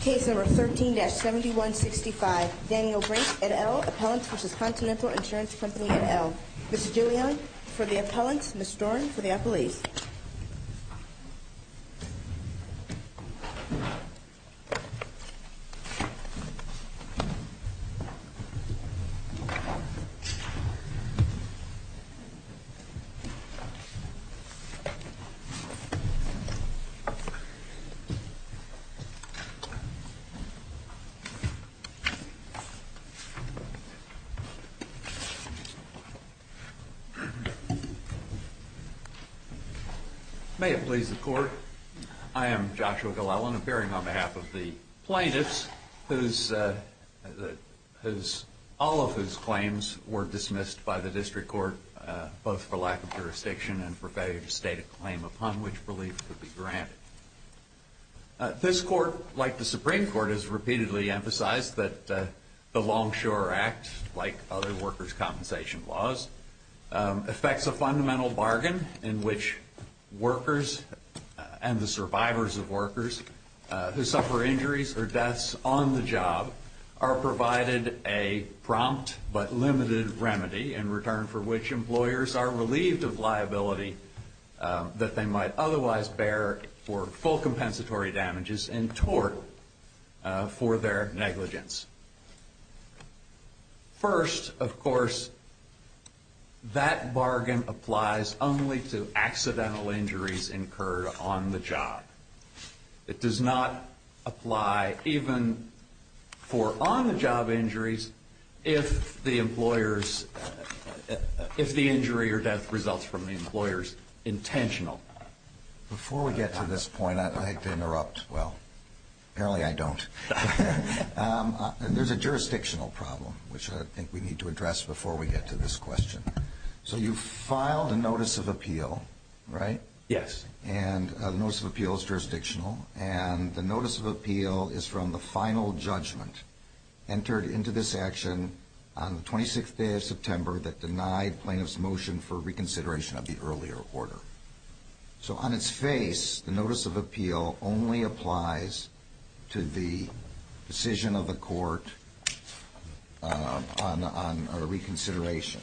Case number 13-7165, Daniel Brink, et al., Appellants v. Continental Insurance Company, et al. Ms. Julian, for the appellants. Ms. Storen, for the appellees. May it please the Court, I am Joshua Glellen, appearing on behalf of the plaintiffs, all of whose claims were dismissed by the District Court, both for lack of jurisdiction and for failure to state a claim upon which belief could be granted. This Court, like the Supreme Court, has repeatedly emphasized that the Longshore Act, like other workers' compensation laws, affects a fundamental bargain in which workers and the survivors of workers who suffer injuries or deaths on the job are provided a prompt but limited remedy in return for which employers are relieved of liability that they might otherwise bear for working. For full compensatory damages and tort for their negligence. First, of course, that bargain applies only to accidental injuries incurred on the job. It does not apply even for on-the-job injuries if the employer's, if the injury or death results from the employer's intentional. Before we get to this point, I'd like to interrupt. Well, apparently I don't. There's a jurisdictional problem, which I think we need to address before we get to this question. So you filed a Notice of Appeal, right? Yes. And the Notice of Appeal is jurisdictional. And the Notice of Appeal is from the final judgment entered into this action on the 26th day of September that denied plaintiffs' motion for reconsideration of the earlier order. So on its face, the Notice of Appeal only applies to the decision of the Court on reconsideration.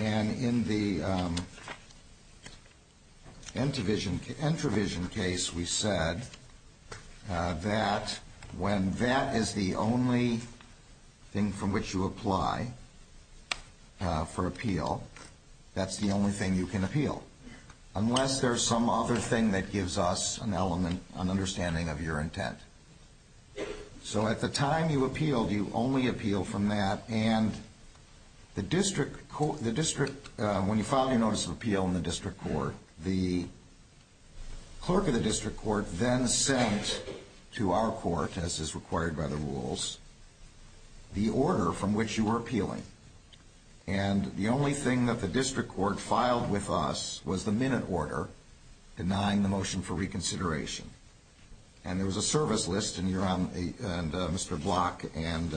And in the Entravision case, we said that when that is the only thing from which you apply for appeal, that's the only thing you can appeal. Unless there's some other thing that gives us an element, an understanding of your intent. So at the time you appealed, you only appealed from that. And when you filed your Notice of Appeal in the District Court, the clerk of the District Court then sent to our court, as is required by the rules, the order from which you were appealing. And the only thing that the District Court filed with us was the minute order denying the motion for reconsideration. And there was a service list, and Mr. Block and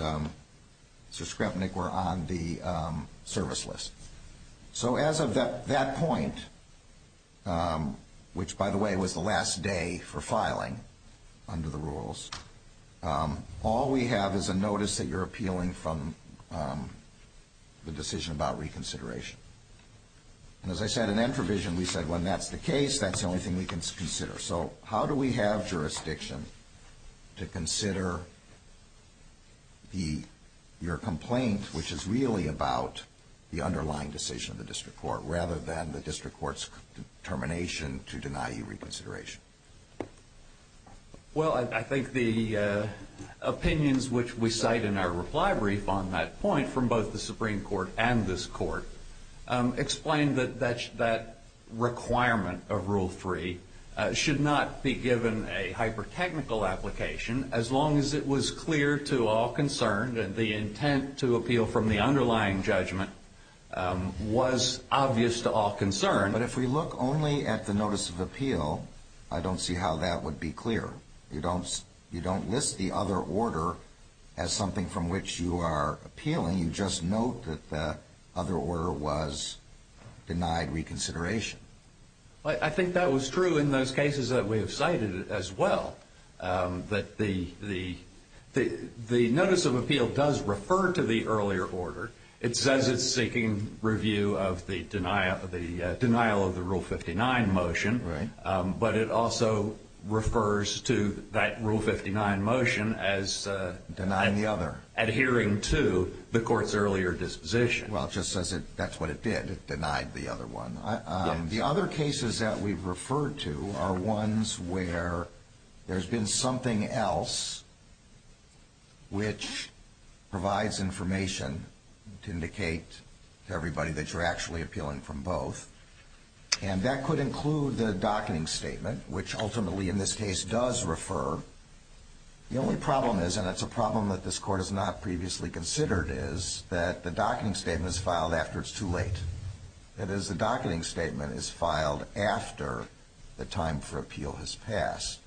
Sir Skrepnik were on the service list. So as of that point, which, by the way, was the last day for filing under the rules, all we have is a notice that you're appealing from the decision about reconsideration. And as I said, in Entravision, we said when that's the case, that's the only thing we can consider. So how do we have jurisdiction to consider your complaint, which is really about the underlying decision of the District Court, rather than the District Court's determination to deny you reconsideration? Well, I think the opinions which we cite in our reply brief on that point from both the Supreme Court and this Court explain that that requirement of Rule 3 should not be given a hyper-technical application, as long as it was clear to all concerned that the intent to appeal from the underlying judgment was obvious to all concerned. But if we look only at the notice of appeal, I don't see how that would be clear. You don't list the other order as something from which you are appealing. You just note that the other order was denied reconsideration. Well, I think that was true in those cases that we have cited as well, that the notice of appeal does refer to the earlier order. It says it's seeking review of the denial of the Rule 59 motion, but it also refers to that Rule 59 motion as adhering to the Court's earlier disposition. Well, it just says that's what it did. It denied the other one. The other cases that we've referred to are ones where there's been something else which provides information to indicate to everybody that you're actually appealing from both. And that could include the docketing statement, which ultimately in this case does refer. The only problem is, and it's a problem that this Court has not previously considered, is that the docketing statement is filed after it's too late. That is, the docketing statement is filed after the time for appeal has passed.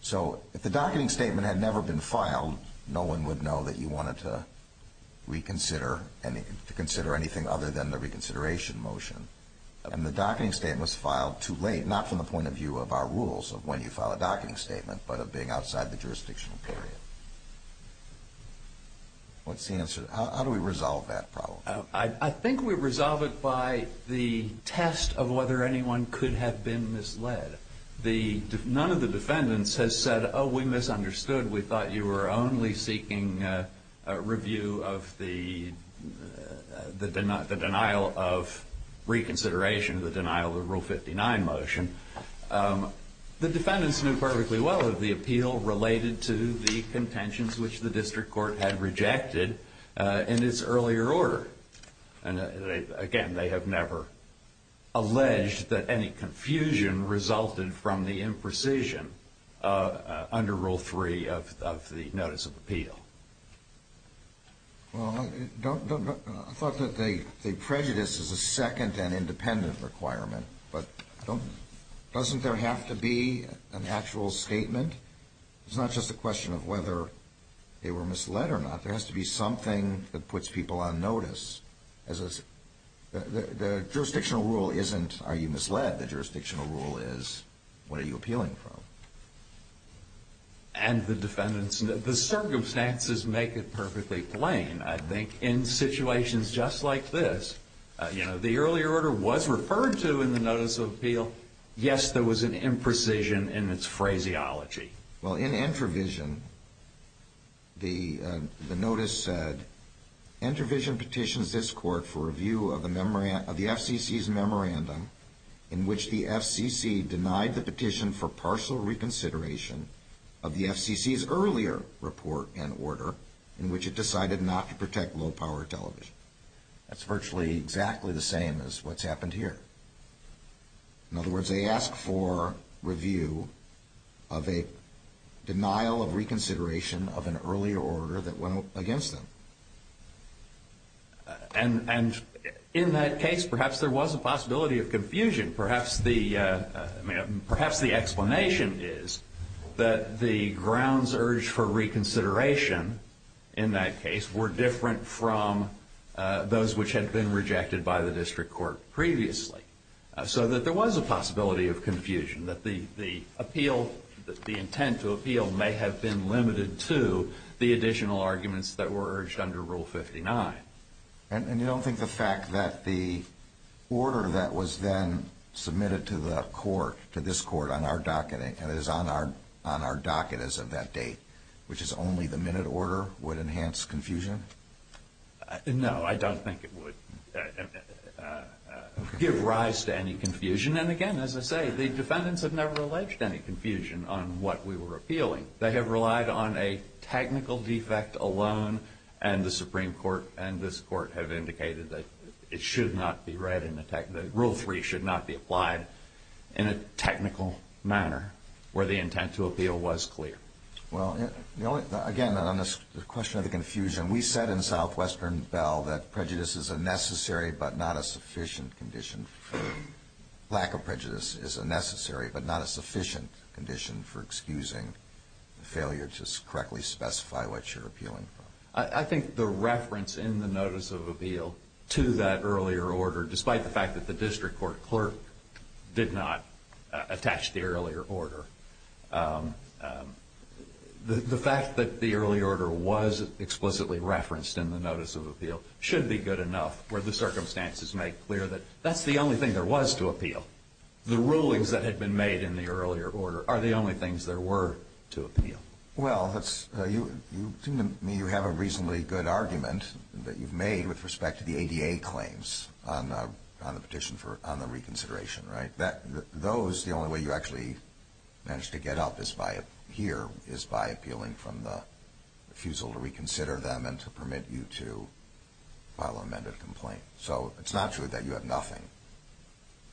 So if the docketing statement had never been filed, no one would know that you wanted to reconsider anything other than the reconsideration motion. And the docketing statement was filed too late, not from the point of view of our rules of when you file a docketing statement, but of being outside the jurisdictional period. What's the answer? How do we resolve that problem? I think we resolve it by the test of whether anyone could have been misled. None of the defendants has said, oh, we misunderstood. We thought you were only seeking a review of the denial of reconsideration, the denial of the Rule 59 motion. The defendants knew perfectly well that the appeal related to the contentions which the District Court had rejected in its earlier order. And again, they have never alleged that any confusion resulted from the imprecision under Rule 3 of the Notice of Appeal. Well, I thought that the prejudice is a second and independent requirement, but doesn't there have to be an actual statement? It's not just a question of whether they were misled or not. There has to be something that puts people on notice. The jurisdictional rule isn't, are you misled? The jurisdictional rule is, what are you appealing from? And the defendants, the circumstances make it perfectly plain. I think in situations just like this, the earlier order was referred to in the Notice of Appeal. Yes, there was an imprecision in its phraseology. Well, in Entrevision, the notice said, Entrevision petitions this Court for review of the FCC's memorandum in which the FCC denied the petition for partial reconsideration of the FCC's earlier report and order in which it decided not to protect low-power television. That's virtually exactly the same as what's happened here. In other words, they ask for review of a denial of reconsideration of an earlier order that went against them. And in that case, perhaps there was a possibility of confusion. Perhaps the explanation is that the grounds urged for reconsideration in that case were different from those which had been rejected by the district court previously. So that there was a possibility of confusion, that the intent to appeal may have been limited to the additional arguments that were urged under Rule 59. And you don't think the fact that the order that was then submitted to the Court, to this Court on our docket, and is on our docket as of that date, which is only the minute order, would enhance confusion? No, I don't think it would give rise to any confusion. And again, as I say, the defendants have never alleged any confusion on what we were appealing. They have relied on a technical defect alone, and the Supreme Court and this Court have indicated that it should not be read in a technical – Rule 3 should not be applied in a technical manner where the intent to appeal was clear. Well, again, on the question of the confusion, we said in Southwestern Bell that prejudice is a necessary but not a sufficient condition. Lack of prejudice is a necessary but not a sufficient condition for excusing the failure to correctly specify what you're appealing for. I think the reference in the Notice of Appeal to that earlier order, despite the fact that the district court clerk did not attach the earlier order, the fact that the earlier order was explicitly referenced in the Notice of Appeal should be good enough where the circumstances make clear that that's the only thing there was to appeal. The rulings that had been made in the earlier order are the only things there were to appeal. Well, you seem to me to have a reasonably good argument that you've made with respect to the ADA claims on the petition for – on the reconsideration, right? Those, the only way you actually managed to get up here is by appealing from the refusal to reconsider them and to permit you to file an amended complaint. So it's not true that you have nothing.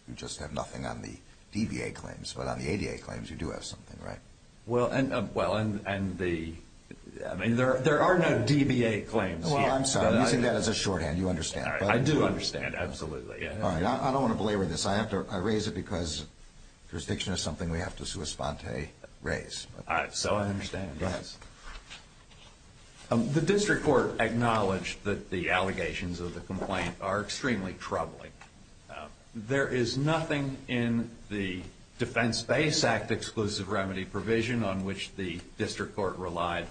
You just have nothing on the DBA claims. But on the ADA claims, you do have something, right? Well, and the – I mean, there are no DBA claims here. Well, I'm sorry. I'm using that as a shorthand. You understand. I do understand, absolutely. All right. I don't want to belabor this. I have to – I raise it because jurisdiction is something we have to sua sponte raise. All right. So I understand. Go ahead. The district court acknowledged that the allegations of the complaint are extremely troubling. There is nothing in the Defense-Based Act Exclusive Remedy provision on which the district court relied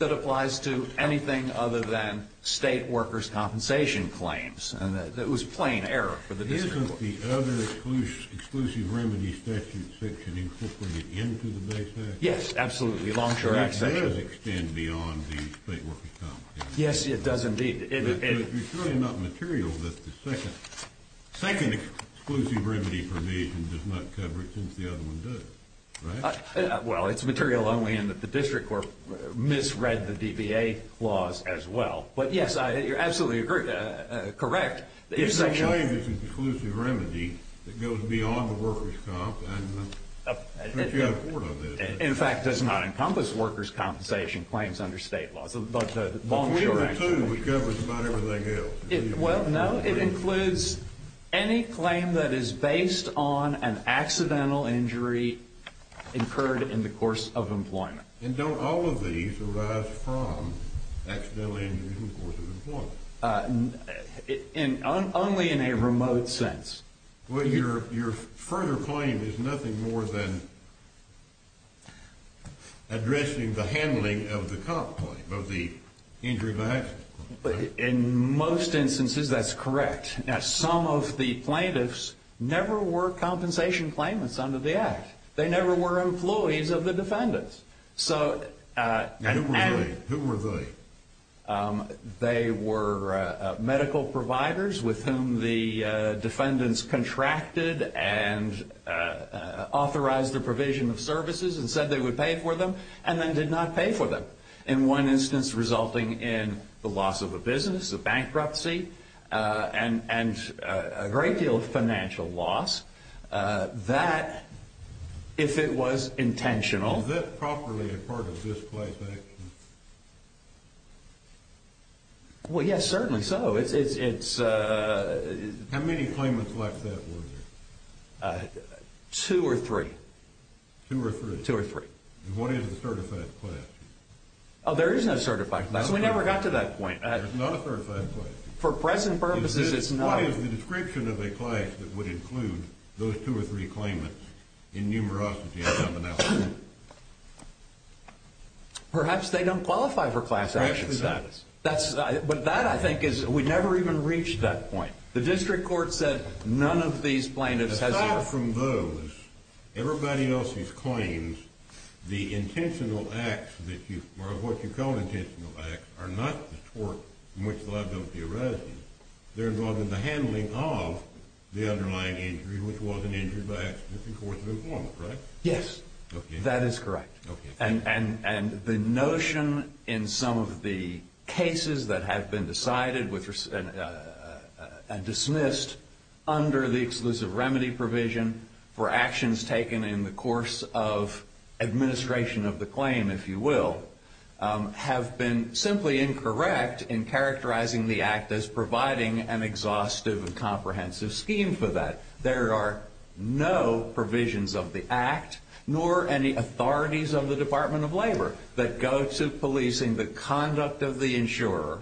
that applies to anything other than state workers' compensation claims. And it was plain error for the district court. Isn't the other Exclusive Remedy statute section incorporated into the base act? Yes, absolutely. Longshore Act section. It does extend beyond the state workers' compensation. Yes, it does indeed. But it's really not material that the second Exclusive Remedy provision does not cover it since the other one does, right? Well, it's material only in that the district court misread the DBA laws as well. But yes, you're absolutely correct. It's a claim that's an Exclusive Remedy that goes beyond the workers' compensation. But you have a court on this. In fact, it does not encompass workers' compensation claims under state laws. But the Longshore Act – Well, we were told it covers about everything else. Well, no, it includes any claim that is based on an accidental injury incurred in the course of employment. And don't all of these arise from accidental injuries in the course of employment? Only in a remote sense. Well, your further claim is nothing more than addressing the handling of the injury by accident. In most instances, that's correct. Now, some of the plaintiffs never were compensation claimants under the Act. They never were employees of the defendants. Who were they? They were medical providers with whom the defendants contracted and authorized the provision of services and said they would pay for them and then did not pay for them. In one instance, resulting in the loss of a business, a bankruptcy, and a great deal of financial loss. That, if it was intentional – Was that properly a part of this claim? Well, yes, certainly so. How many claimants left that were there? Two or three. Two or three? Two or three. And what is the certified class? Oh, there is no certified class. We never got to that point. There's not a certified class? For present purposes, it's not. What is the description of a class that would include those two or three claimants in numerosity and commonality? Perhaps they don't qualify for class action status. But that, I think, is – we never even reached that point. The district court said none of these plaintiffs has ever – The intentional acts, or what you call intentional acts, are not the tort in which the liability arises. They're involved in the handling of the underlying injury, which was an injury by accident in the course of employment, right? Yes. That is correct. And the notion in some of the cases that have been decided and dismissed under the exclusive remedy provision for actions taken in the course of administration of the claim, if you will, have been simply incorrect in characterizing the act as providing an exhaustive and comprehensive scheme for that. There are no provisions of the act, nor any authorities of the Department of Labor, that go to policing the conduct of the insurer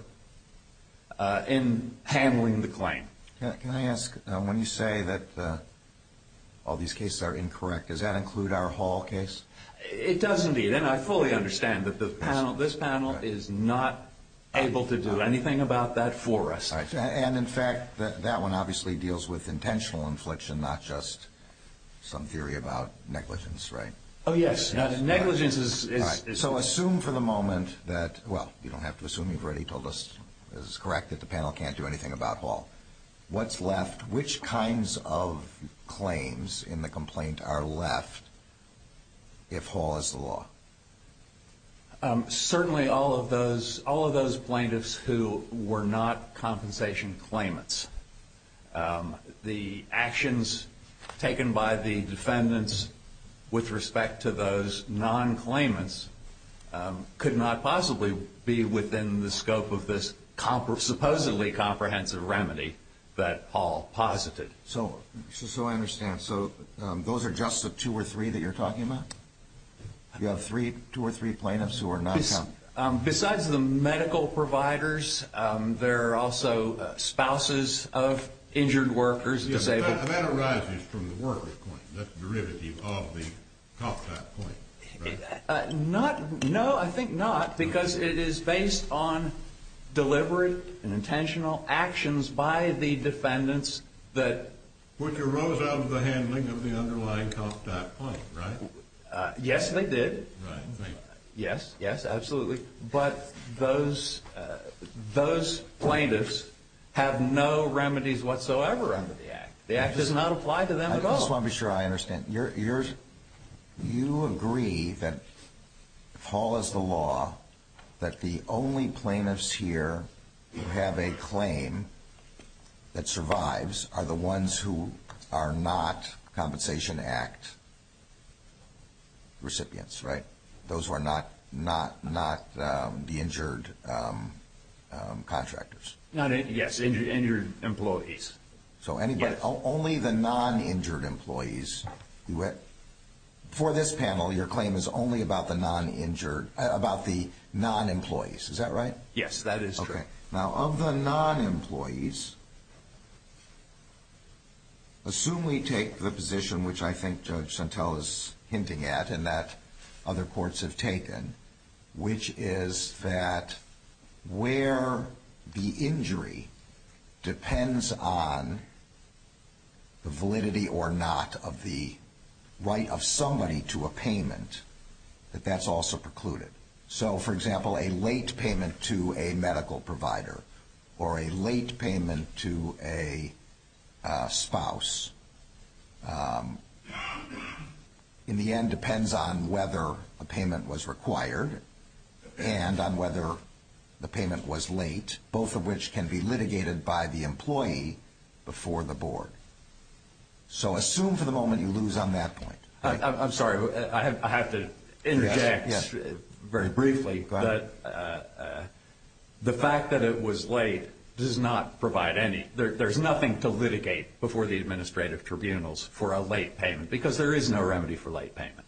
in handling the claim. Can I ask, when you say that all these cases are incorrect, does that include our Hall case? It does indeed. And I fully understand that this panel is not able to do anything about that for us. And, in fact, that one obviously deals with intentional infliction, not just some theory about negligence, right? Oh, yes. Negligence is – So assume for the moment that – well, you don't have to assume. You've already told us it's correct that the panel can't do anything about Hall. What's left? Which kinds of claims in the complaint are left if Hall is the law? Certainly all of those plaintiffs who were not compensation claimants. The actions taken by the defendants with respect to those non-claimants could not possibly be within the scope of this supposedly comprehensive remedy that Hall posited. So I understand. So those are just the two or three that you're talking about? You have two or three plaintiffs who are non-claimants? Besides the medical providers, there are also spouses of injured workers, disabled – Yes, but that arises from the workers' claim. That's derivative of the cost type claim, right? No, I think not, because it is based on deliberate and intentional actions by the defendants that – But you rose out of the handling of the underlying cost type claim, right? Yes, they did. Yes, yes, absolutely. But those plaintiffs have no remedies whatsoever under the Act. The Act does not apply to them at all. I just want to be sure I understand. You agree that if Hall is the law, that the only plaintiffs here who have a claim that survives are the ones who are not Compensation Act recipients, right? Those who are not the injured contractors? Yes, injured employees. So only the non-injured employees. For this panel, your claim is only about the non-employees, is that right? Yes, that is true. Okay. Now, of the non-employees, assume we take the position which I think Judge Santel is hinting at and that other courts have taken, which is that where the injury depends on the validity or not of the right of somebody to a payment, that that's also precluded. So, for example, a late payment to a medical provider or a late payment to a spouse in the end depends on whether a payment was required and on whether the payment was late, both of which can be litigated by the employee before the board. So assume for the moment you lose on that point. I'm sorry, I have to interject very briefly. The fact that it was late does not provide any, there's nothing to litigate before the administrative tribunals for a late payment because there is no remedy for late payment.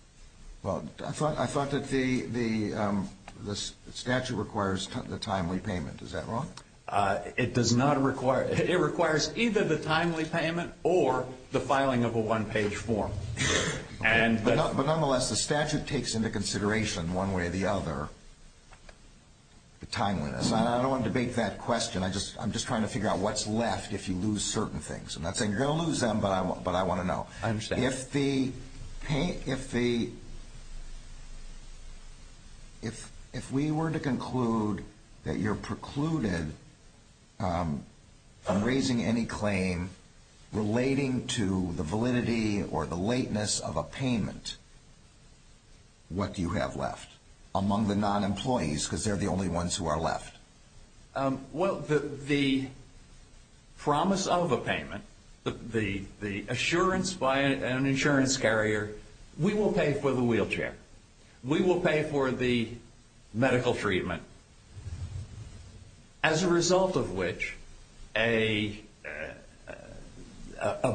Well, I thought that the statute requires the timely payment, is that wrong? It does not require, it requires either the timely payment or the filing of a one-page form. But nonetheless, the statute takes into consideration one way or the other the timeliness. I don't want to debate that question. I'm just trying to figure out what's left if you lose certain things. I'm not saying you're going to lose them, but I want to know. I understand. If we were to conclude that you're precluded from raising any claim relating to the validity or the lateness of a payment, what do you have left among the non-employees because they're the only ones who are left? Well, the promise of a payment, the assurance by an insurance carrier, we will pay for the wheelchair. We will pay for the medical treatment, as a result of which a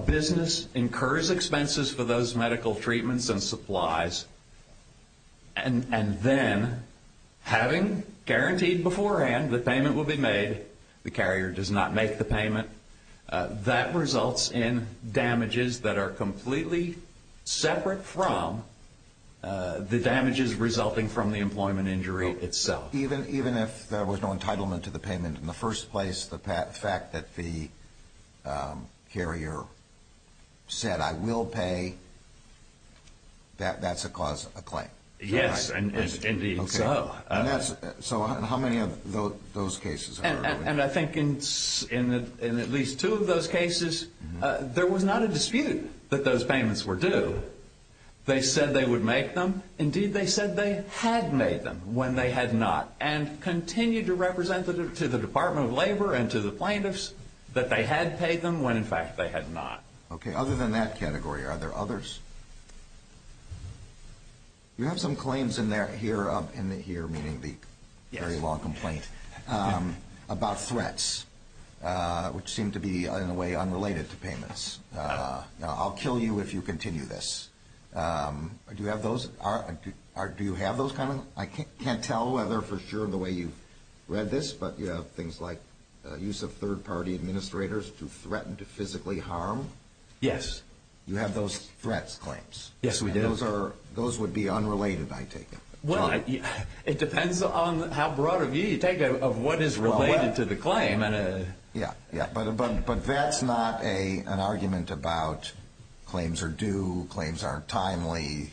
business incurs expenses for those medical treatments and supplies, and then having guaranteed beforehand that payment will be made, the carrier does not make the payment, that results in damages that are completely separate from the damages resulting from the employment injury itself. Even if there was no entitlement to the payment in the first place, the fact that the carrier said, I will pay, that's a cause of a claim? Yes, indeed so. So how many of those cases are there? And I think in at least two of those cases, there was not a dispute that those payments were due. They said they would make them. Indeed, they said they had made them when they had not, and continued to represent to the Department of Labor and to the plaintiffs that they had paid them when, in fact, they had not. Okay, other than that category, are there others? You have some claims in here, meaning the very long complaint, about threats, which seem to be, in a way, unrelated to payments. Now, I'll kill you if you continue this. Do you have those? I can't tell whether for sure the way you read this, but you have things like use of third-party administrators to threaten to physically harm. Yes. You have those threats claims. Yes, we do. Those would be unrelated, I take it. It depends on how broad a view you take of what is related to the claim. Yeah, but that's not an argument about claims are due, claims aren't timely,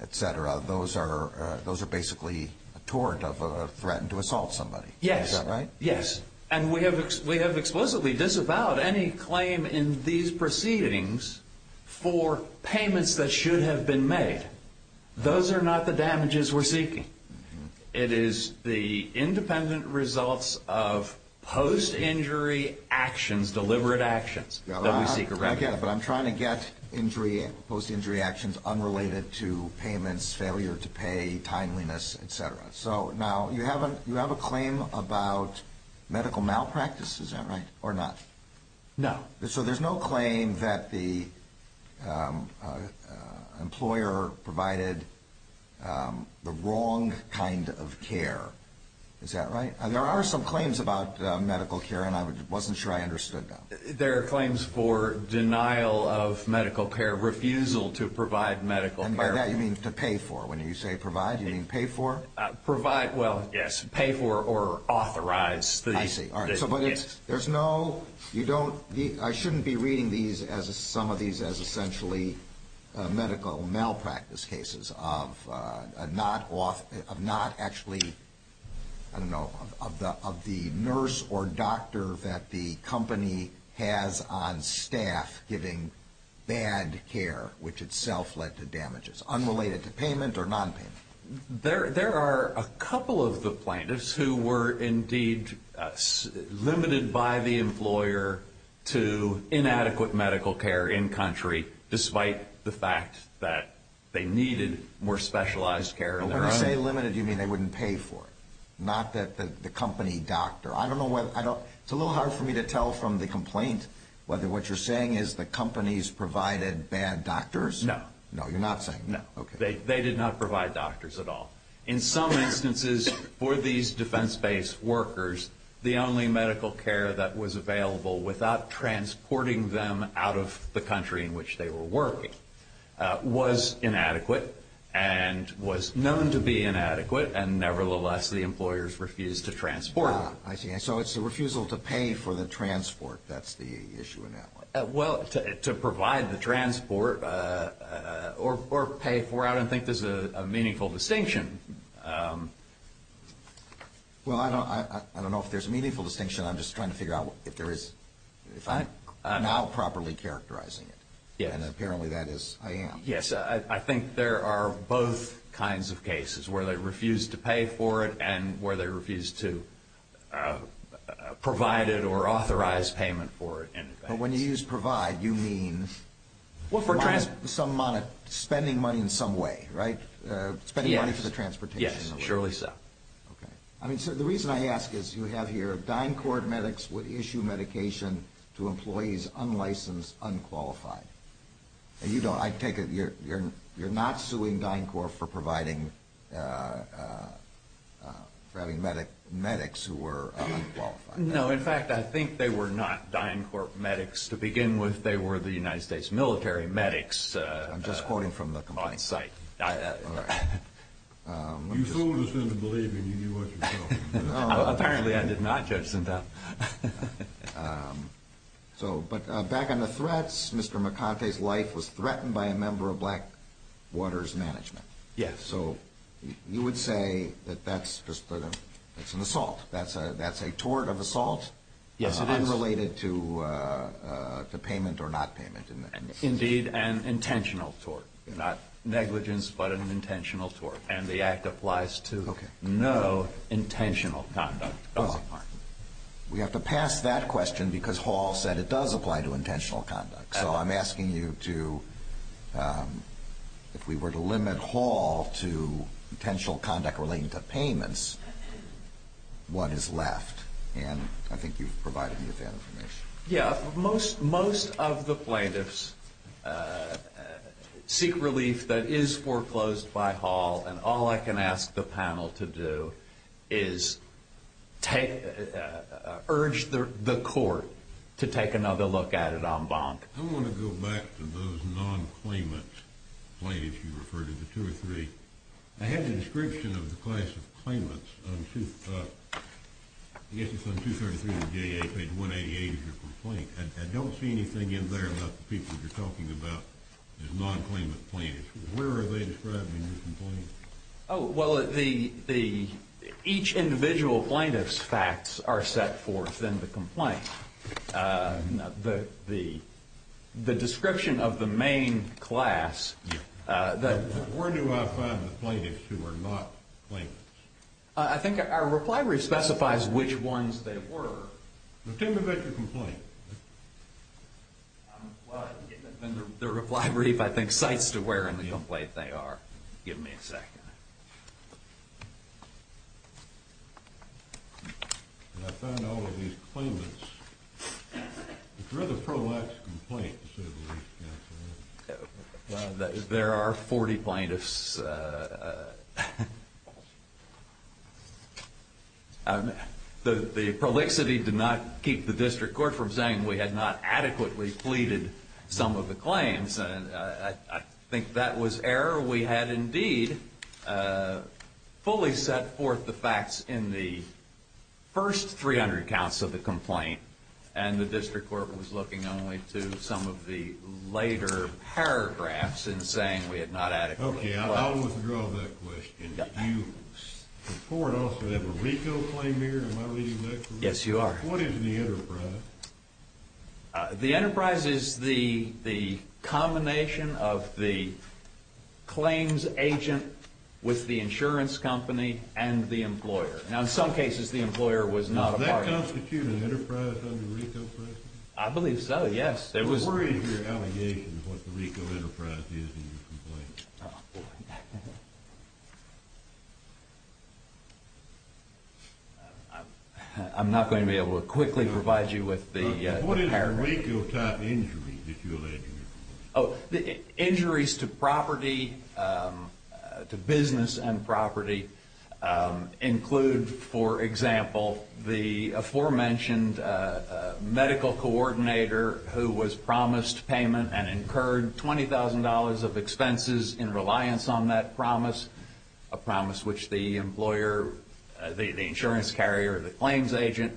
etc. Those are basically a tort of a threat to assault somebody. Yes. Is that right? Yes. And we have explicitly disavowed any claim in these proceedings for payments that should have been made. Those are not the damages we're seeking. It is the independent results of post-injury actions, deliberate actions, that we seek. I get it, but I'm trying to get post-injury actions unrelated to payments, failure to pay, timeliness, etc. Now, you have a claim about medical malpractice, is that right, or not? No. So there's no claim that the employer provided the wrong kind of care, is that right? There are some claims about medical care, and I wasn't sure I understood them. There are claims for denial of medical care, refusal to provide medical care. And by that you mean to pay for, when you say provide, you mean pay for? Provide, well, yes, pay for or authorize. I see. I don't know, of the nurse or doctor that the company has on staff giving bad care, which itself led to damages. Unrelated to payment or non-payment? There are a couple of the plaintiffs who were indeed limited by the employer to inadequate medical care in-country, despite the fact that they needed more specialized care. When I say limited, you mean they wouldn't pay for it, not that the company doctor. I don't know whether, it's a little hard for me to tell from the complaint whether what you're saying is the company's provided bad doctors? No. No, you're not saying. No. Okay. They did not provide doctors at all. In some instances, for these defense-based workers, the only medical care that was available without transporting them out of the country in which they were working was inadequate and was known to be inadequate, and nevertheless, the employers refused to transport them. I see. So it's a refusal to pay for the transport. That's the issue in that one. Well, to provide the transport or pay for, I don't think there's a meaningful distinction. Well, I don't know if there's a meaningful distinction. I'm just trying to figure out if there is. If I'm now properly characterizing it, and apparently that is, I am. Yes. I think there are both kinds of cases where they refuse to pay for it and where they refuse to provide it or authorize payment for it. But when you use provide, you mean spending money in some way, right? Spending money for the transportation. Yes, surely so. The reason I ask is you have here, DynCorp medics would issue medication to employees unlicensed, unqualified. I take it you're not suing DynCorp for having medics who were unqualified. No. In fact, I think they were not DynCorp medics to begin with. They were the United States military medics on site. I'm just quoting from the complaint. You fooled us into believing you knew what you were talking about. Apparently I did not, Judge Sindel. But back on the threats, Mr. McConty's life was threatened by a member of Blackwater's management. Yes. So you would say that that's just an assault. That's a tort of assault unrelated to payment or not payment. Indeed, an intentional tort. Not negligence, but an intentional tort. And the act applies to no intentional conduct. We have to pass that question because Hall said it does apply to intentional conduct. So I'm asking you to, if we were to limit Hall to intentional conduct relating to payments, what is left? And I think you've provided me with that information. Yeah. Most of the plaintiffs seek relief that is foreclosed by Hall, and all I can ask the panel to do is urge the court to take another look at it en banc. I want to go back to those non-claimant plaintiffs you referred to, the two or three. I had the description of the class of claimants on page 188 of your complaint. I don't see anything in there about the people you're talking about as non-claimant plaintiffs. Where are they described in your complaint? Oh, well, each individual plaintiff's facts are set forth in the complaint. The description of the main class. Where do I find the plaintiffs who are not claimants? I think our reply brief specifies which ones they were. Tell me about your complaint. The reply brief, I think, cites to where in the complaint they are. Give me a second. I found all of these claimants. It's a rather prolix complaint to say the least, Counselor. There are 40 plaintiffs. The prolixity did not keep the district court from saying we had not adequately pleaded some of the claims. I think that was error. We had, indeed, fully set forth the facts in the first 300 counts of the complaint, and the district court was looking only to some of the later paragraphs and saying we had not adequately pleaded. Okay, I'll withdraw that question. Did you support also that Mariko claimed here in my reading of that complaint? Yes, you are. What is the enterprise? The enterprise is the combination of the claims agent with the insurance company and the employer. Now, in some cases, the employer was not a part of it. Does that constitute an enterprise under Mariko's version? I believe so, yes. What is your allegation of what the Mariko enterprise is in your complaint? Oh, boy. I'm not going to be able to quickly provide you with the paragraph. What is the Mariko type injury that you allege in your complaint? Injuries to property, to business and property, include, for example, the aforementioned medical coordinator who was promised payment and incurred $20,000 of expenses in reliance on that promise, a promise which the employer, the insurance carrier, the claims agent,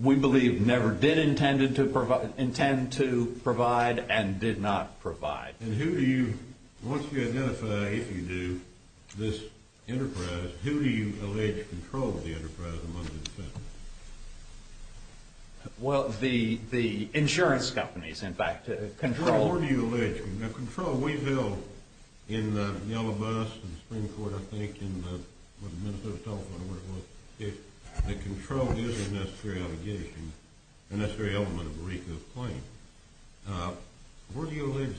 we believe never did intend to provide and did not provide. And who do you, once you identify, if you do, this enterprise, who do you allege controls the enterprise amongst itself? Well, the insurance companies, in fact. Control. Where do you allege? Now, control, we know in the yellow bus and the Supreme Court, I think, and what the Minister of Health and Welfare said, that control is a necessary allegation, a necessary element of Mariko's claim. Where do you allege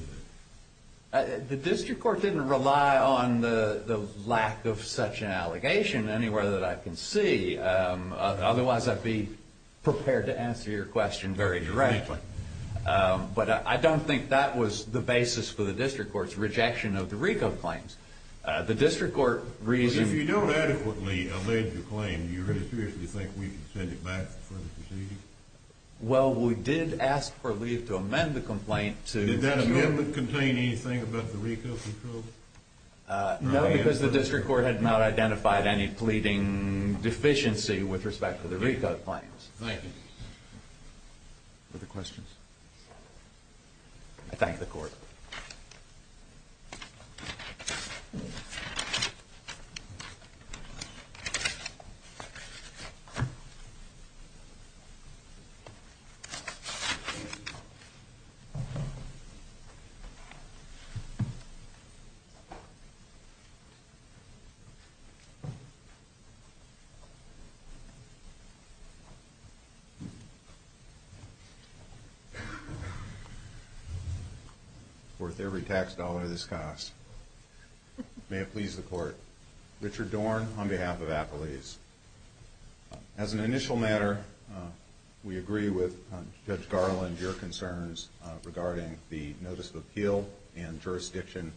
that? The district court didn't rely on the lack of such an allegation anywhere that I can see. Otherwise, I'd be prepared to answer your question very directly. But I don't think that was the basis for the district court's rejection of the Mariko claims. The district court reasoned... If you don't adequately allege the claim, do you really seriously think we can send it back for further proceedings? Well, we did ask for leave to amend the complaint to... Did that amendment contain anything about the Mariko control? No, because the district court had not identified any pleading deficiency with respect to the Mariko claims. Thank you. Other questions? I thank the court. Thank you. Worth every tax dollar this costs. May it please the court. Richard Dorn, on behalf of Apoleis. As an initial matter, we agree with Judge Garland, your concerns regarding the notice of appeal and jurisdiction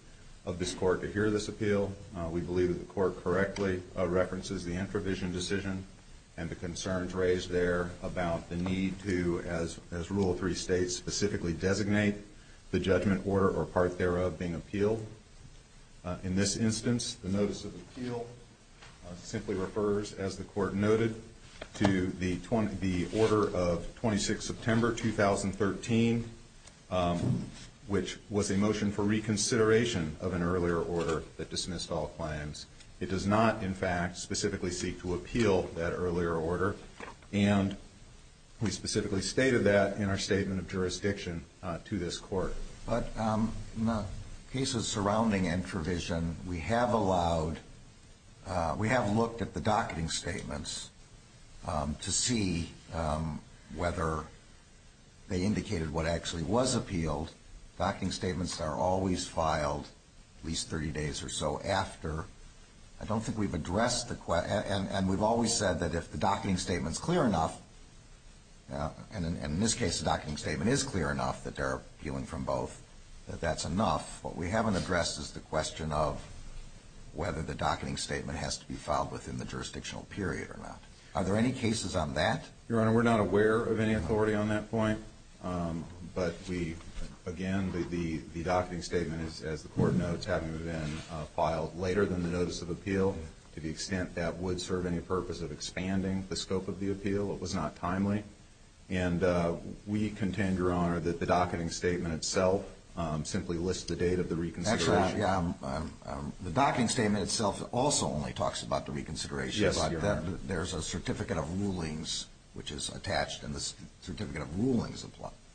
of this court to hear this appeal. We believe that the court correctly references the introvision decision and the concerns raised there about the need to, as rule of three states, specifically designate the judgment order or part thereof being appealed. In this instance, the notice of appeal simply refers, as the court noted, to the order of 26 September 2013, which was a motion for reconsideration of an earlier order that dismissed all claims. It does not, in fact, specifically seek to appeal that earlier order, and we specifically stated that in our statement of jurisdiction to this court. But in the cases surrounding introvision, we have allowed, we have looked at the docketing statements to see whether they indicated what actually was appealed. Docketing statements are always filed at least 30 days or so after. I don't think we've addressed the question. And we've always said that if the docketing statement is clear enough, and in this case the docketing statement is clear enough that they're appealing from both, that that's enough. What we haven't addressed is the question of whether the docketing statement has to be filed within the jurisdictional period or not. Are there any cases on that? Your Honor, we're not aware of any authority on that point. But we, again, the docketing statement, as the court notes, having been filed later than the notice of appeal, to the extent that would serve any purpose of expanding the scope of the appeal, it was not timely. And we contend, Your Honor, that the docketing statement itself simply lists the date of the reconsideration. The docketing statement itself also only talks about the reconsideration. Yes, Your Honor. There's a certificate of rulings, which is attached, and the certificate of rulings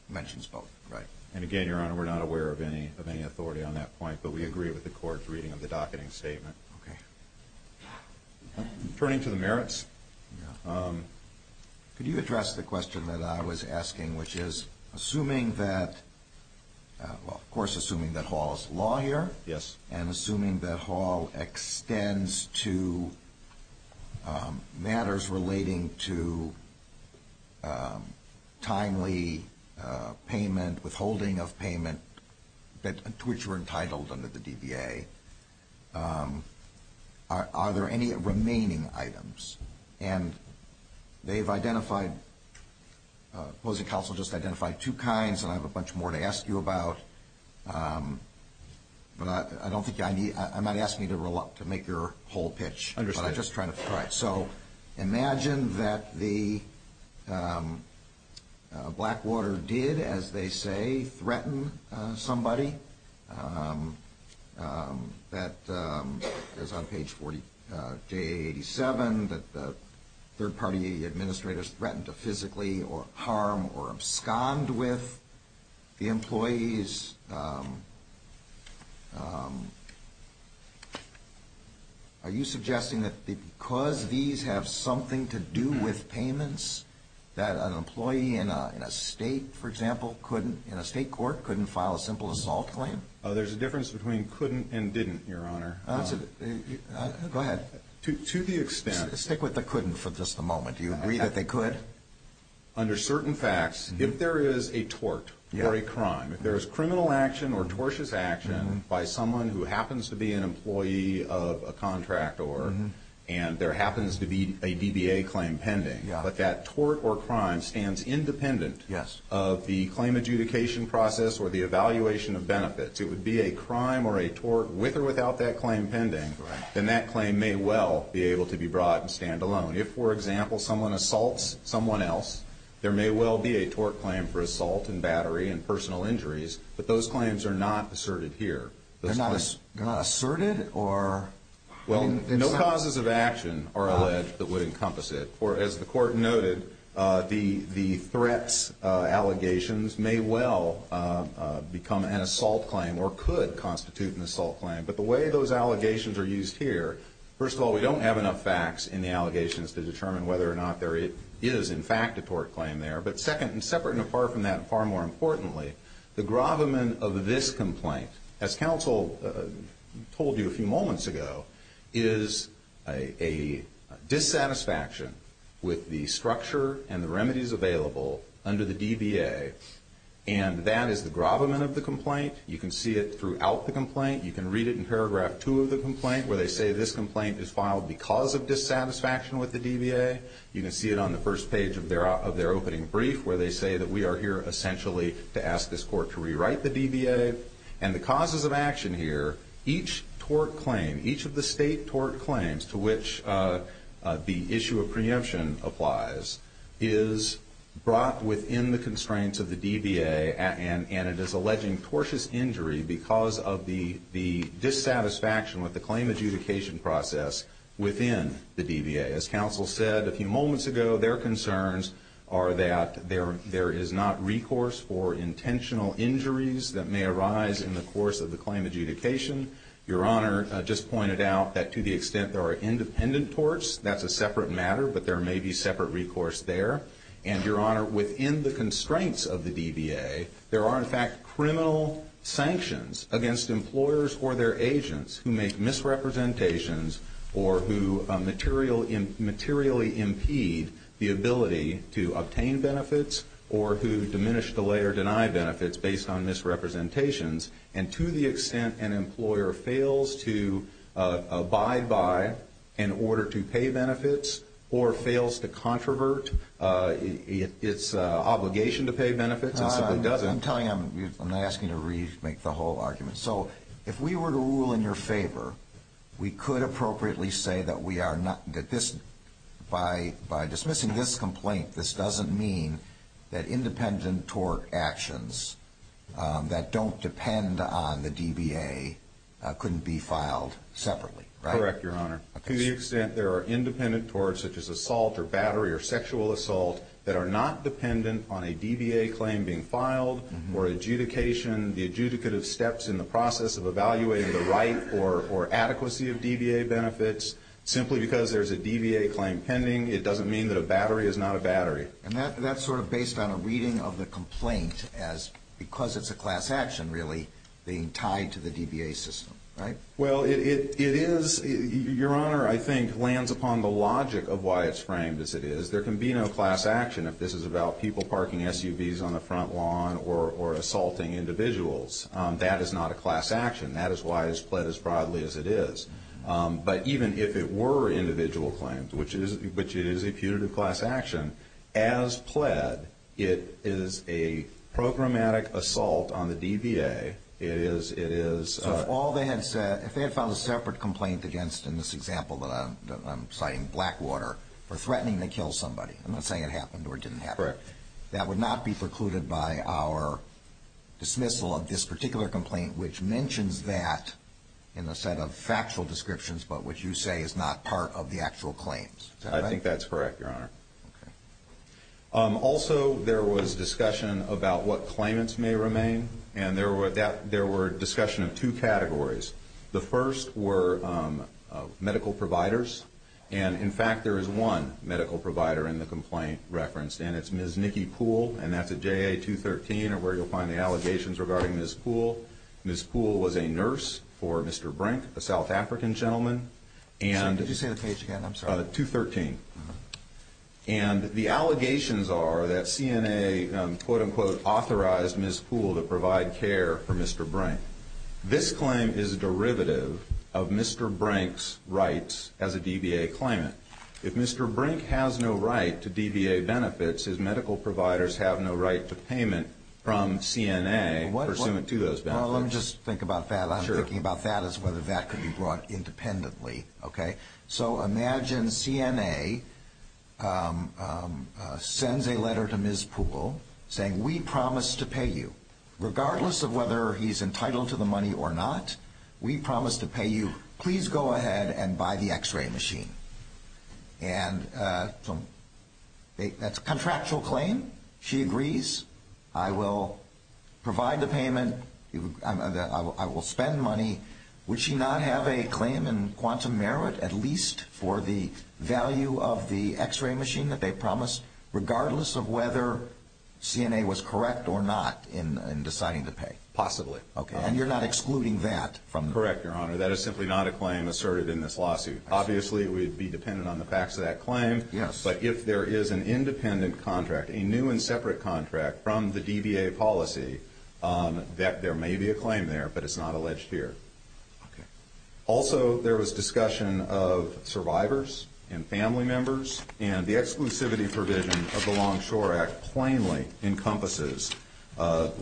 mentions both. Right. And, again, Your Honor, we're not aware of any authority on that point. But we agree with the court's reading of the docketing statement. Okay. Turning to the merits. Could you address the question that I was asking, which is, assuming that, well, of course, assuming that Hall is a lawyer. Yes. And assuming that Hall extends to matters relating to timely payment, withholding of payment, to which you're entitled under the DBA, are there any remaining items? And they've identified, opposing counsel just identified two kinds, and I have a bunch more to ask you about. But I don't think I need, I'm not asking you to roll up to make your whole pitch. Understood. All right. So imagine that the Blackwater did, as they say, threaten somebody. That is on page 487, that the third-party administrators threatened to physically harm or abscond with the employees. Are you suggesting that because these have something to do with payments, that an employee in a state, for example, in a state court couldn't file a simple assault claim? There's a difference between couldn't and didn't, Your Honor. Go ahead. To the extent. Stick with the couldn't for just a moment. Do you agree that they could? Under certain facts, if there is a tort or a crime, if there is criminal action or tortious action by someone who happens to be an employee of a contractor and there happens to be a DBA claim pending, but that tort or crime stands independent of the claim adjudication process or the evaluation of benefits, it would be a crime or a tort with or without that claim pending, then that claim may well be able to be brought and stand alone. If, for example, someone assaults someone else, there may well be a tort claim for assault and battery and personal injuries, but those claims are not asserted here. They're not asserted or? Well, no causes of action are alleged that would encompass it. As the Court noted, the threats allegations may well become an assault claim or could constitute an assault claim. But the way those allegations are used here, first of all, we don't have enough facts in the allegations to determine whether or not there is, in fact, a tort claim there. But second, and separate and apart from that, and far more importantly, the gravamen of this complaint, as counsel told you a few moments ago, is a dissatisfaction with the structure and the remedies available under the DBA. And that is the gravamen of the complaint. You can see it throughout the complaint. You can read it in paragraph two of the complaint, where they say this complaint is filed because of dissatisfaction with the DBA. You can see it on the first page of their opening brief, where they say that we are here essentially to ask this Court to rewrite the DBA. And the causes of action here, each tort claim, each of the state tort claims to which the issue of preemption applies, is brought within the constraints of the DBA, and it is alleging tortious injury because of the dissatisfaction with the claim adjudication process within the DBA. As counsel said a few moments ago, their concerns are that there is not recourse for intentional injuries that may arise in the course of the claim adjudication. Your Honor just pointed out that to the extent there are independent torts, that's a separate matter, but there may be separate recourse there. And, Your Honor, within the constraints of the DBA, there are in fact criminal sanctions against employers or their agents who make misrepresentations or who materially impede the ability to obtain benefits or who diminish, delay, or deny benefits based on misrepresentations. And to the extent an employer fails to abide by an order to pay benefits or fails to controvert its obligation to pay benefits and simply doesn't. I'm telling you, I'm not asking you to remake the whole argument. So if we were to rule in your favor, we could appropriately say that we are not, that this, by dismissing this complaint, this doesn't mean that independent tort actions that don't depend on the DBA couldn't be filed separately, right? Correct, Your Honor. To the extent there are independent torts such as assault or battery or sexual assault that are not dependent on a DBA claim being filed or adjudication, the adjudicative steps in the process of evaluating the right or adequacy of DBA benefits, simply because there's a DBA claim pending, it doesn't mean that a battery is not a battery. And that's sort of based on a reading of the complaint as because it's a class action, really, being tied to the DBA system, right? Well, it is, Your Honor, I think lands upon the logic of why it's framed as it is. There can be no class action if this is about people parking SUVs on the front lawn or assaulting individuals. That is not a class action. That is why it's pled as broadly as it is. But even if it were individual claims, which it is a putative class action, as pled, it is a programmatic assault on the DBA. So if all they had said, if they had filed a separate complaint against, in this example that I'm citing, Blackwater, for threatening to kill somebody, I'm not saying it happened or didn't happen, that would not be precluded by our dismissal of this particular complaint, which mentions that in a set of factual descriptions but which you say is not part of the actual claims. Is that right? I think that's correct, Your Honor. Okay. Also, there was discussion about what claimants may remain. And there were discussion of two categories. The first were medical providers. And, in fact, there is one medical provider in the complaint referenced. And it's Ms. Nikki Poole, and that's at JA 213, where you'll find the allegations regarding Ms. Poole. Ms. Poole was a nurse for Mr. Brink, a South African gentleman. Did you say the page again? I'm sorry. 213. And the allegations are that CNA, quote, unquote, authorized Ms. Poole to provide care for Mr. Brink. This claim is a derivative of Mr. Brink's rights as a DBA claimant. If Mr. Brink has no right to DBA benefits, his medical providers have no right to payment from CNA pursuant to those benefits. Well, let me just think about that. I'm thinking about that as whether that could be brought independently. Okay? So imagine CNA sends a letter to Ms. Poole saying, we promise to pay you. Regardless of whether he's entitled to the money or not, we promise to pay you. Please go ahead and buy the X-ray machine. And that's a contractual claim. She agrees. I will provide the payment. I will spend money. Would she not have a claim in quantum merit at least for the value of the X-ray machine that they promised, regardless of whether CNA was correct or not in deciding to pay? Possibly. Okay. And you're not excluding that from the claim? Correct, Your Honor. That is simply not a claim asserted in this lawsuit. Obviously, we'd be dependent on the facts of that claim. Yes. But if there is an independent contract, a new and separate contract from the DBA policy, there may be a claim there, but it's not alleged here. Okay. Also, there was discussion of survivors and family members, and the exclusivity provision of the Longshore Act plainly encompasses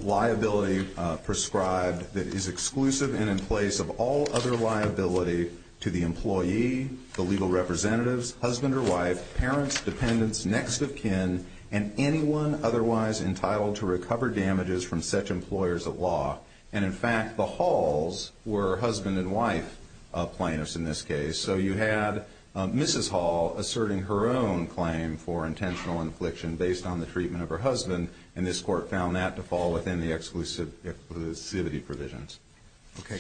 liability prescribed that is exclusive and in place of all other liability to the employee, the legal representatives, husband or wife, parents, dependents, next of kin, and anyone otherwise entitled to recover damages from such employers of law. And, in fact, the Halls were husband and wife plaintiffs in this case. So you had Mrs. Hall asserting her own claim for intentional infliction based on the treatment of her husband, and this Court found that to fall within the exclusivity provisions. Okay.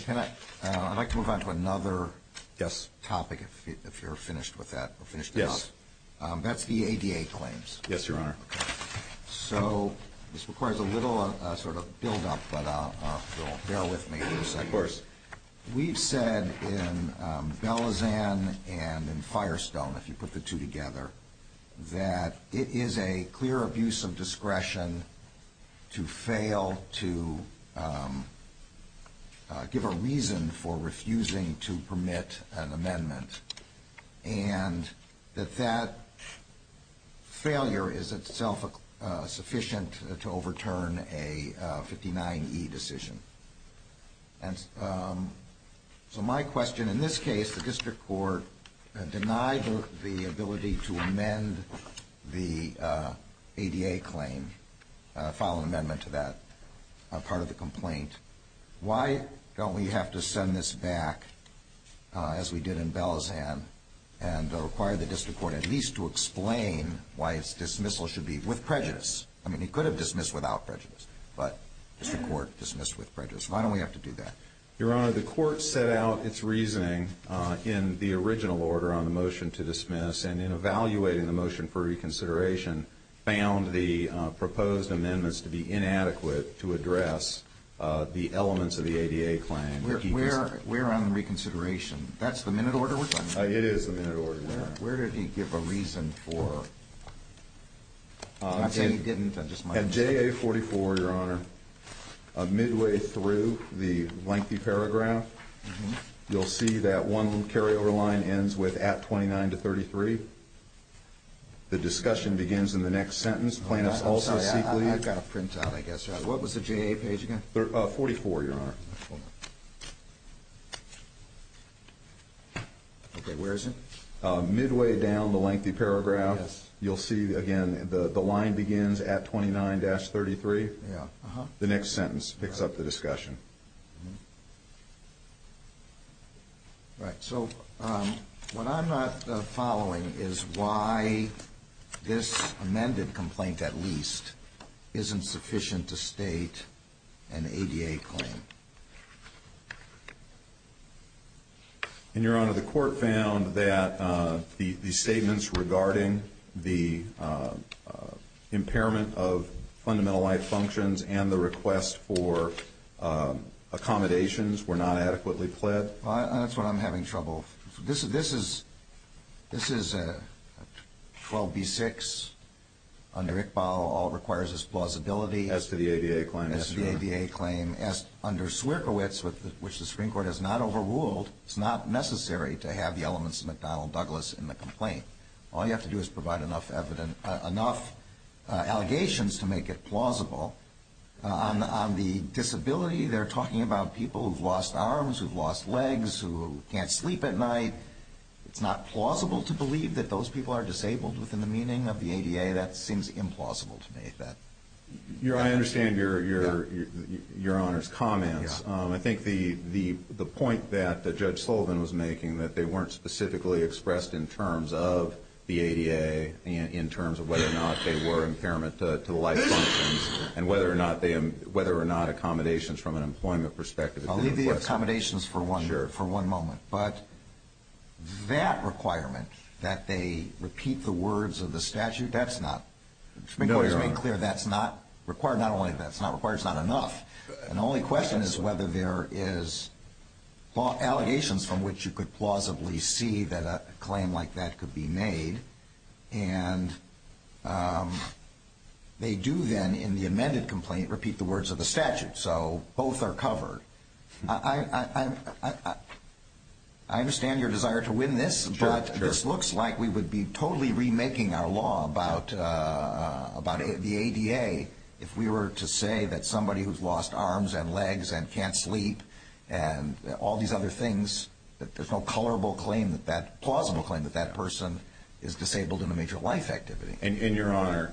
I'd like to move on to another topic, if you're finished with that. Yes. That's the ADA claims. Yes, Your Honor. Okay. So this requires a little sort of buildup, but bear with me for a second. Of course. We've said in Belizan and in Firestone, if you put the two together, that it is a clear abuse of discretion to fail to give a reason for refusing to permit an amendment, and that that failure is itself sufficient to overturn a 59E decision. And so my question in this case, the District Court denied the ability to amend the ADA claim, file an amendment to that part of the complaint. Why don't we have to send this back, as we did in Belizan, and require the District Court at least to explain why its dismissal should be with prejudice? I mean, it could have dismissed without prejudice, but the District Court dismissed with prejudice. Why don't we have to do that? Your Honor, the Court set out its reasoning in the original order on the motion to dismiss, and in evaluating the motion for reconsideration, found the proposed amendments to be inadequate to address the elements of the ADA claim. We're on reconsideration. That's the minute order? It is the minute order, Your Honor. Where did he give a reason for it? I'm not saying he didn't. At JA44, Your Honor, midway through the lengthy paragraph, you'll see that one carryover line ends with at 29 to 33. The discussion begins in the next sentence. I'm sorry, I've got to print out, I guess. What was the JA page again? 44, Your Honor. Okay, where is it? Midway down the lengthy paragraph, you'll see, again, the line begins at 29-33. The next sentence picks up the discussion. Right, so what I'm not following is why this amended complaint, at least, isn't sufficient to state an ADA claim. And, Your Honor, the Court found that the statements regarding the impairment of fundamental life functions and the request for accommodations were not adequately pled. That's what I'm having trouble with. This is 12b-6, under Iqbal, all requires is plausibility. As to the ADA claim, yes, Your Honor. As to the ADA claim, under Swierkiewicz, which the Supreme Court has not overruled, it's not necessary to have the elements of McDonnell Douglas in the complaint. All you have to do is provide enough allegations to make it plausible. On the disability, they're talking about people who've lost arms, who've lost legs, who can't sleep at night. It's not plausible to believe that those people are disabled within the meaning of the ADA. That seems implausible to me. I understand Your Honor's comments. I think the point that Judge Sullivan was making, that they weren't specifically expressed in terms of the ADA, in terms of whether or not they were impairment to the life functions, and whether or not accommodations from an employment perspective. I'll leave the accommodations for one moment. But that requirement, that they repeat the words of the statute, that's not required. Not only that's not required, it's not enough. The only question is whether there is allegations from which you could plausibly see that a claim like that could be made. And they do then, in the amended complaint, repeat the words of the statute. So both are covered. I understand your desire to win this, but this looks like we would be totally remaking our law about the ADA if we were to say that somebody who's lost arms and legs and can't sleep and all these other things, that there's no colorable claim, plausible claim that that person is disabled in a major life activity. And Your Honor,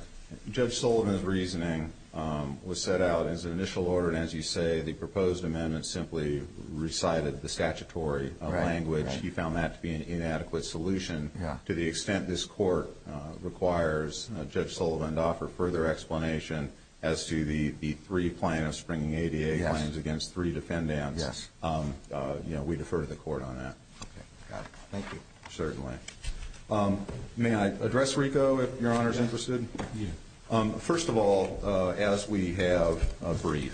Judge Sullivan's reasoning was set out as an initial order. And as you say, the proposed amendment simply recited the statutory language. He found that to be an inadequate solution to the extent this court requires Judge Sullivan to offer further explanation as to the three plaintiffs bringing ADA claims against three defendants. Yes. We defer to the court on that. Okay, got it. Thank you. Certainly. May I address RICO, if Your Honor is interested? Yes. First of all, as we have agreed,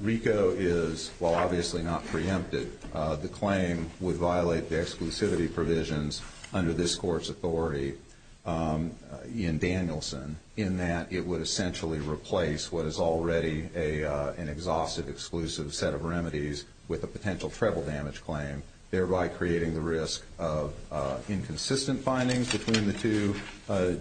RICO is, while obviously not preempted, the claim would violate the exclusivity provisions under this court's authority in Danielson in that it would essentially replace what is already an exhaustive, exclusive set of remedies with a potential treble damage claim, thereby creating the risk of inconsistent findings between the two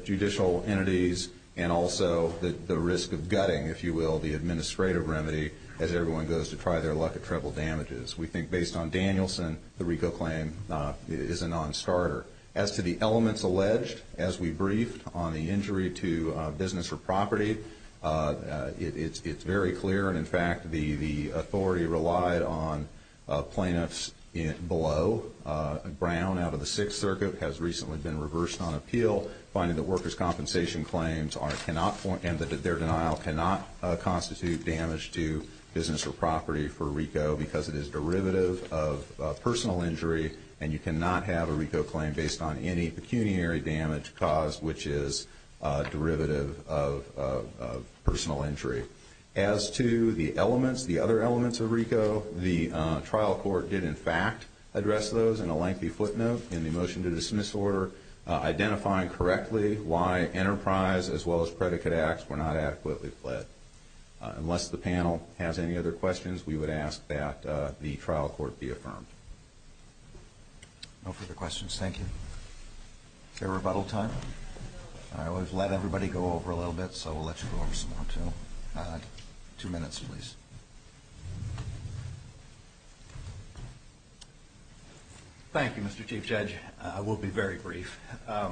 judicial entities and also the risk of gutting, if you will, the administrative remedy as everyone goes to try their luck at treble damages. We think based on Danielson, the RICO claim is a non-starter. As to the elements alleged, as we briefed on the injury to Business for Property, it's very clear and, in fact, the authority relied on plaintiffs below. Brown out of the Sixth Circuit has recently been reversed on appeal, finding that workers' compensation claims cannot, and that their denial cannot constitute damage to Business for Property for RICO because it is derivative of personal injury and you cannot have a RICO claim based on any pecuniary damage caused, which is derivative of personal injury. As to the elements, the other elements of RICO, the trial court did, in fact, address those in a lengthy footnote in the motion to dismiss order, identifying correctly why Enterprise as well as Predicate Acts were not adequately fled, but unless the panel has any other questions, we would ask that the trial court be affirmed. No further questions, thank you. Is there rebuttal time? I always let everybody go over a little bit, so we'll let you go over some more, too. Two minutes, please. Thank you, Mr. Chief Judge. I will be very brief. I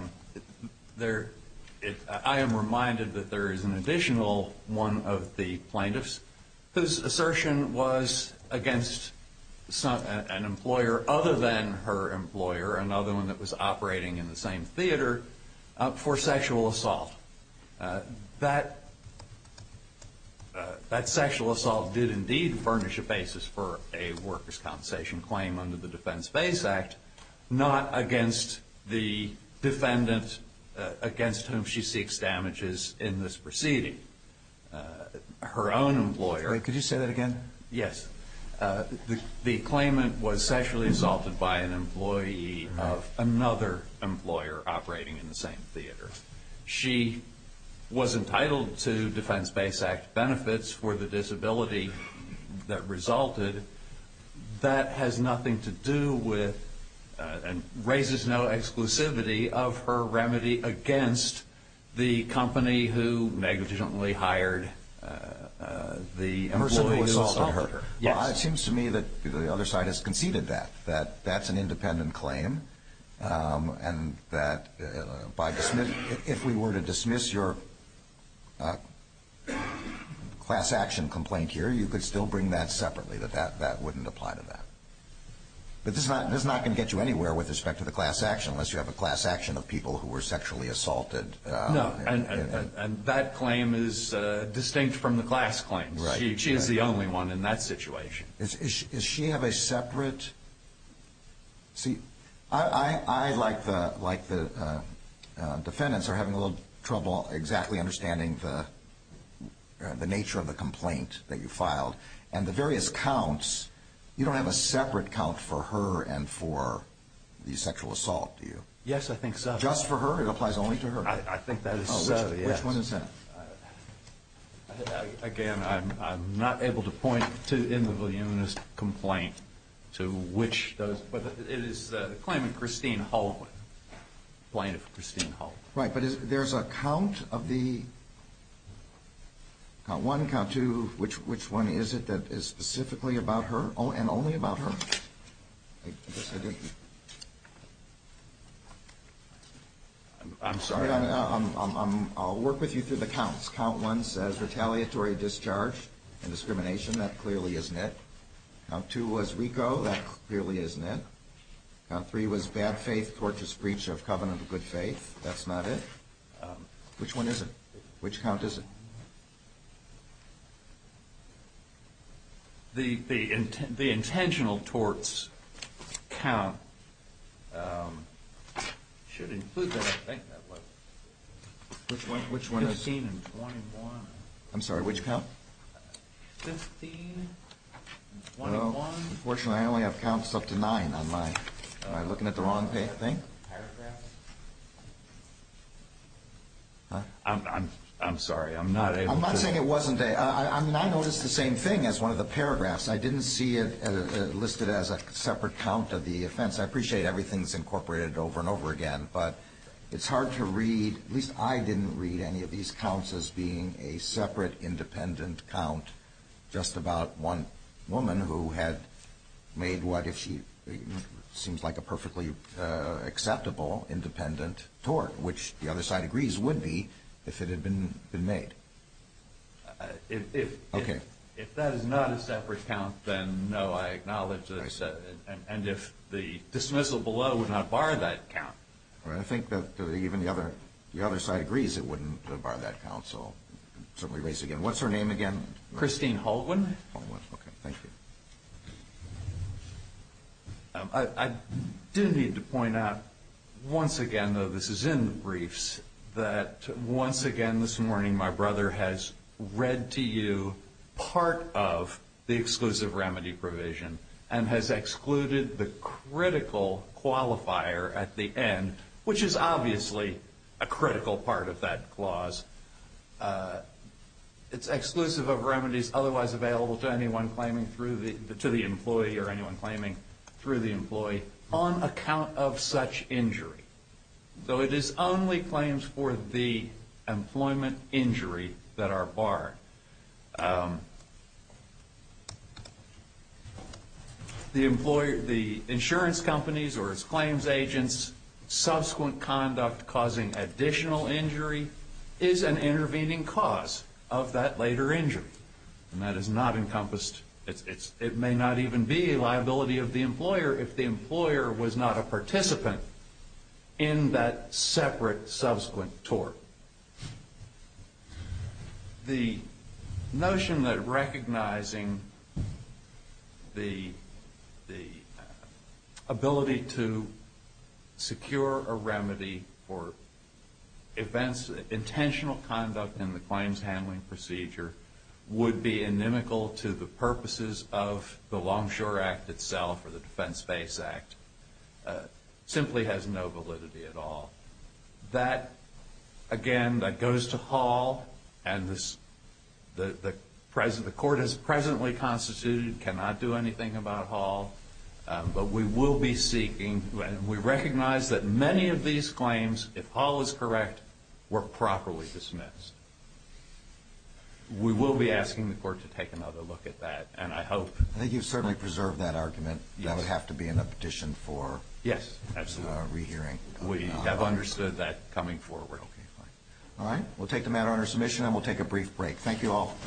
am reminded that there is an additional one of the plaintiffs whose assertion was against an employer other than her employer, another one that was operating in the same theater, for sexual assault. That sexual assault did indeed furnish a basis for a workers' compensation claim under the Defense Base Act, not against the defendant against whom she seeks damages in this proceeding. Her own employer. Could you say that again? Yes. The claimant was sexually assaulted by an employee of another employer operating in the same theater. She was entitled to Defense Base Act benefits for the disability that resulted. That has nothing to do with and raises no exclusivity of her remedy against the company who negatively hired the employee who assaulted her. It seems to me that the other side has conceded that, that that's an independent claim, and that if we were to dismiss your class action complaint here, you could still bring that separately, that that wouldn't apply to that. But this is not going to get you anywhere with respect to the class action, unless you have a class action of people who were sexually assaulted. No. And that claim is distinct from the class claims. Right. She is the only one in that situation. Does she have a separate? See, I, like the defendants, are having a little trouble exactly understanding the nature of the complaint that you filed. And the various counts, you don't have a separate count for her and for the sexual assault, do you? Yes, I think so. Just for her? It applies only to her? I think that is so, yes. Which one is that? Again, I'm not able to point to, in the Villanueva's complaint, to which those, but it is the claim of Christine Hull, the complaint of Christine Hull. Right. But there's a count of the, count one, count two, which one is it that is specifically about her and only about her? I'm sorry. I'll work with you through the counts. Count one says retaliatory discharge and discrimination. That clearly isn't it. Count two was RICO. That clearly isn't it. Count three was bad faith, torturous breach of covenant of good faith. That's not it. Which one is it? Which count is it? The intentional torts count should include that, I think. Which one is it? Fifteen and twenty-one. I'm sorry, which count? Fifteen and twenty-one. Unfortunately, I only have counts up to nine. Am I looking at the wrong thing? Paragraphs? I'm sorry. I'm not able to. I'm not saying it wasn't. I mean, I noticed the same thing as one of the paragraphs. I didn't see it listed as a separate count of the offense. I appreciate everything's incorporated over and over again, but it's hard to read, at least I didn't read, any of these counts as being a separate independent count just about one woman who had made what, seems like a perfectly acceptable independent tort, which the other side agrees would be if it had been made. If that is not a separate count, then no, I acknowledge that. And if the dismissal below would not bar that count. I think that even the other side agrees it wouldn't bar that count, so certainly raise it again. What's her name again? Christine Haldwin. Thank you. I did need to point out once again, though this is in the briefs, that once again this morning, my brother has read to you part of the exclusive remedy provision and has excluded the critical qualifier at the end, which is obviously a critical part of that clause. It's exclusive of remedies otherwise available to anyone claiming through the employee or anyone claiming through the employee on account of such injury. So it is only claims for the employment injury that are barred. The insurance companies or its claims agents, subsequent conduct causing additional injury, is an intervening cause of that later injury. And that is not encompassed, it may not even be a liability of the employer if the employer was not a participant in that separate subsequent tort. So the notion that recognizing the ability to secure a remedy for events, intentional conduct in the claims handling procedure would be inimical to the purposes of the Longshore Act itself or the Defense Base Act simply has no validity at all. That, again, that goes to Hall and the court has presently constituted, cannot do anything about Hall, but we will be seeking and we recognize that many of these claims, if Hall is correct, were properly dismissed. We will be asking the court to take another look at that and I hope. I think you've certainly preserved that argument. Yes. That would have to be in a petition for re-hearing. We have understood that coming forward. Okay, fine. All right, we'll take the matter under submission and we'll take a brief break. Thank you all.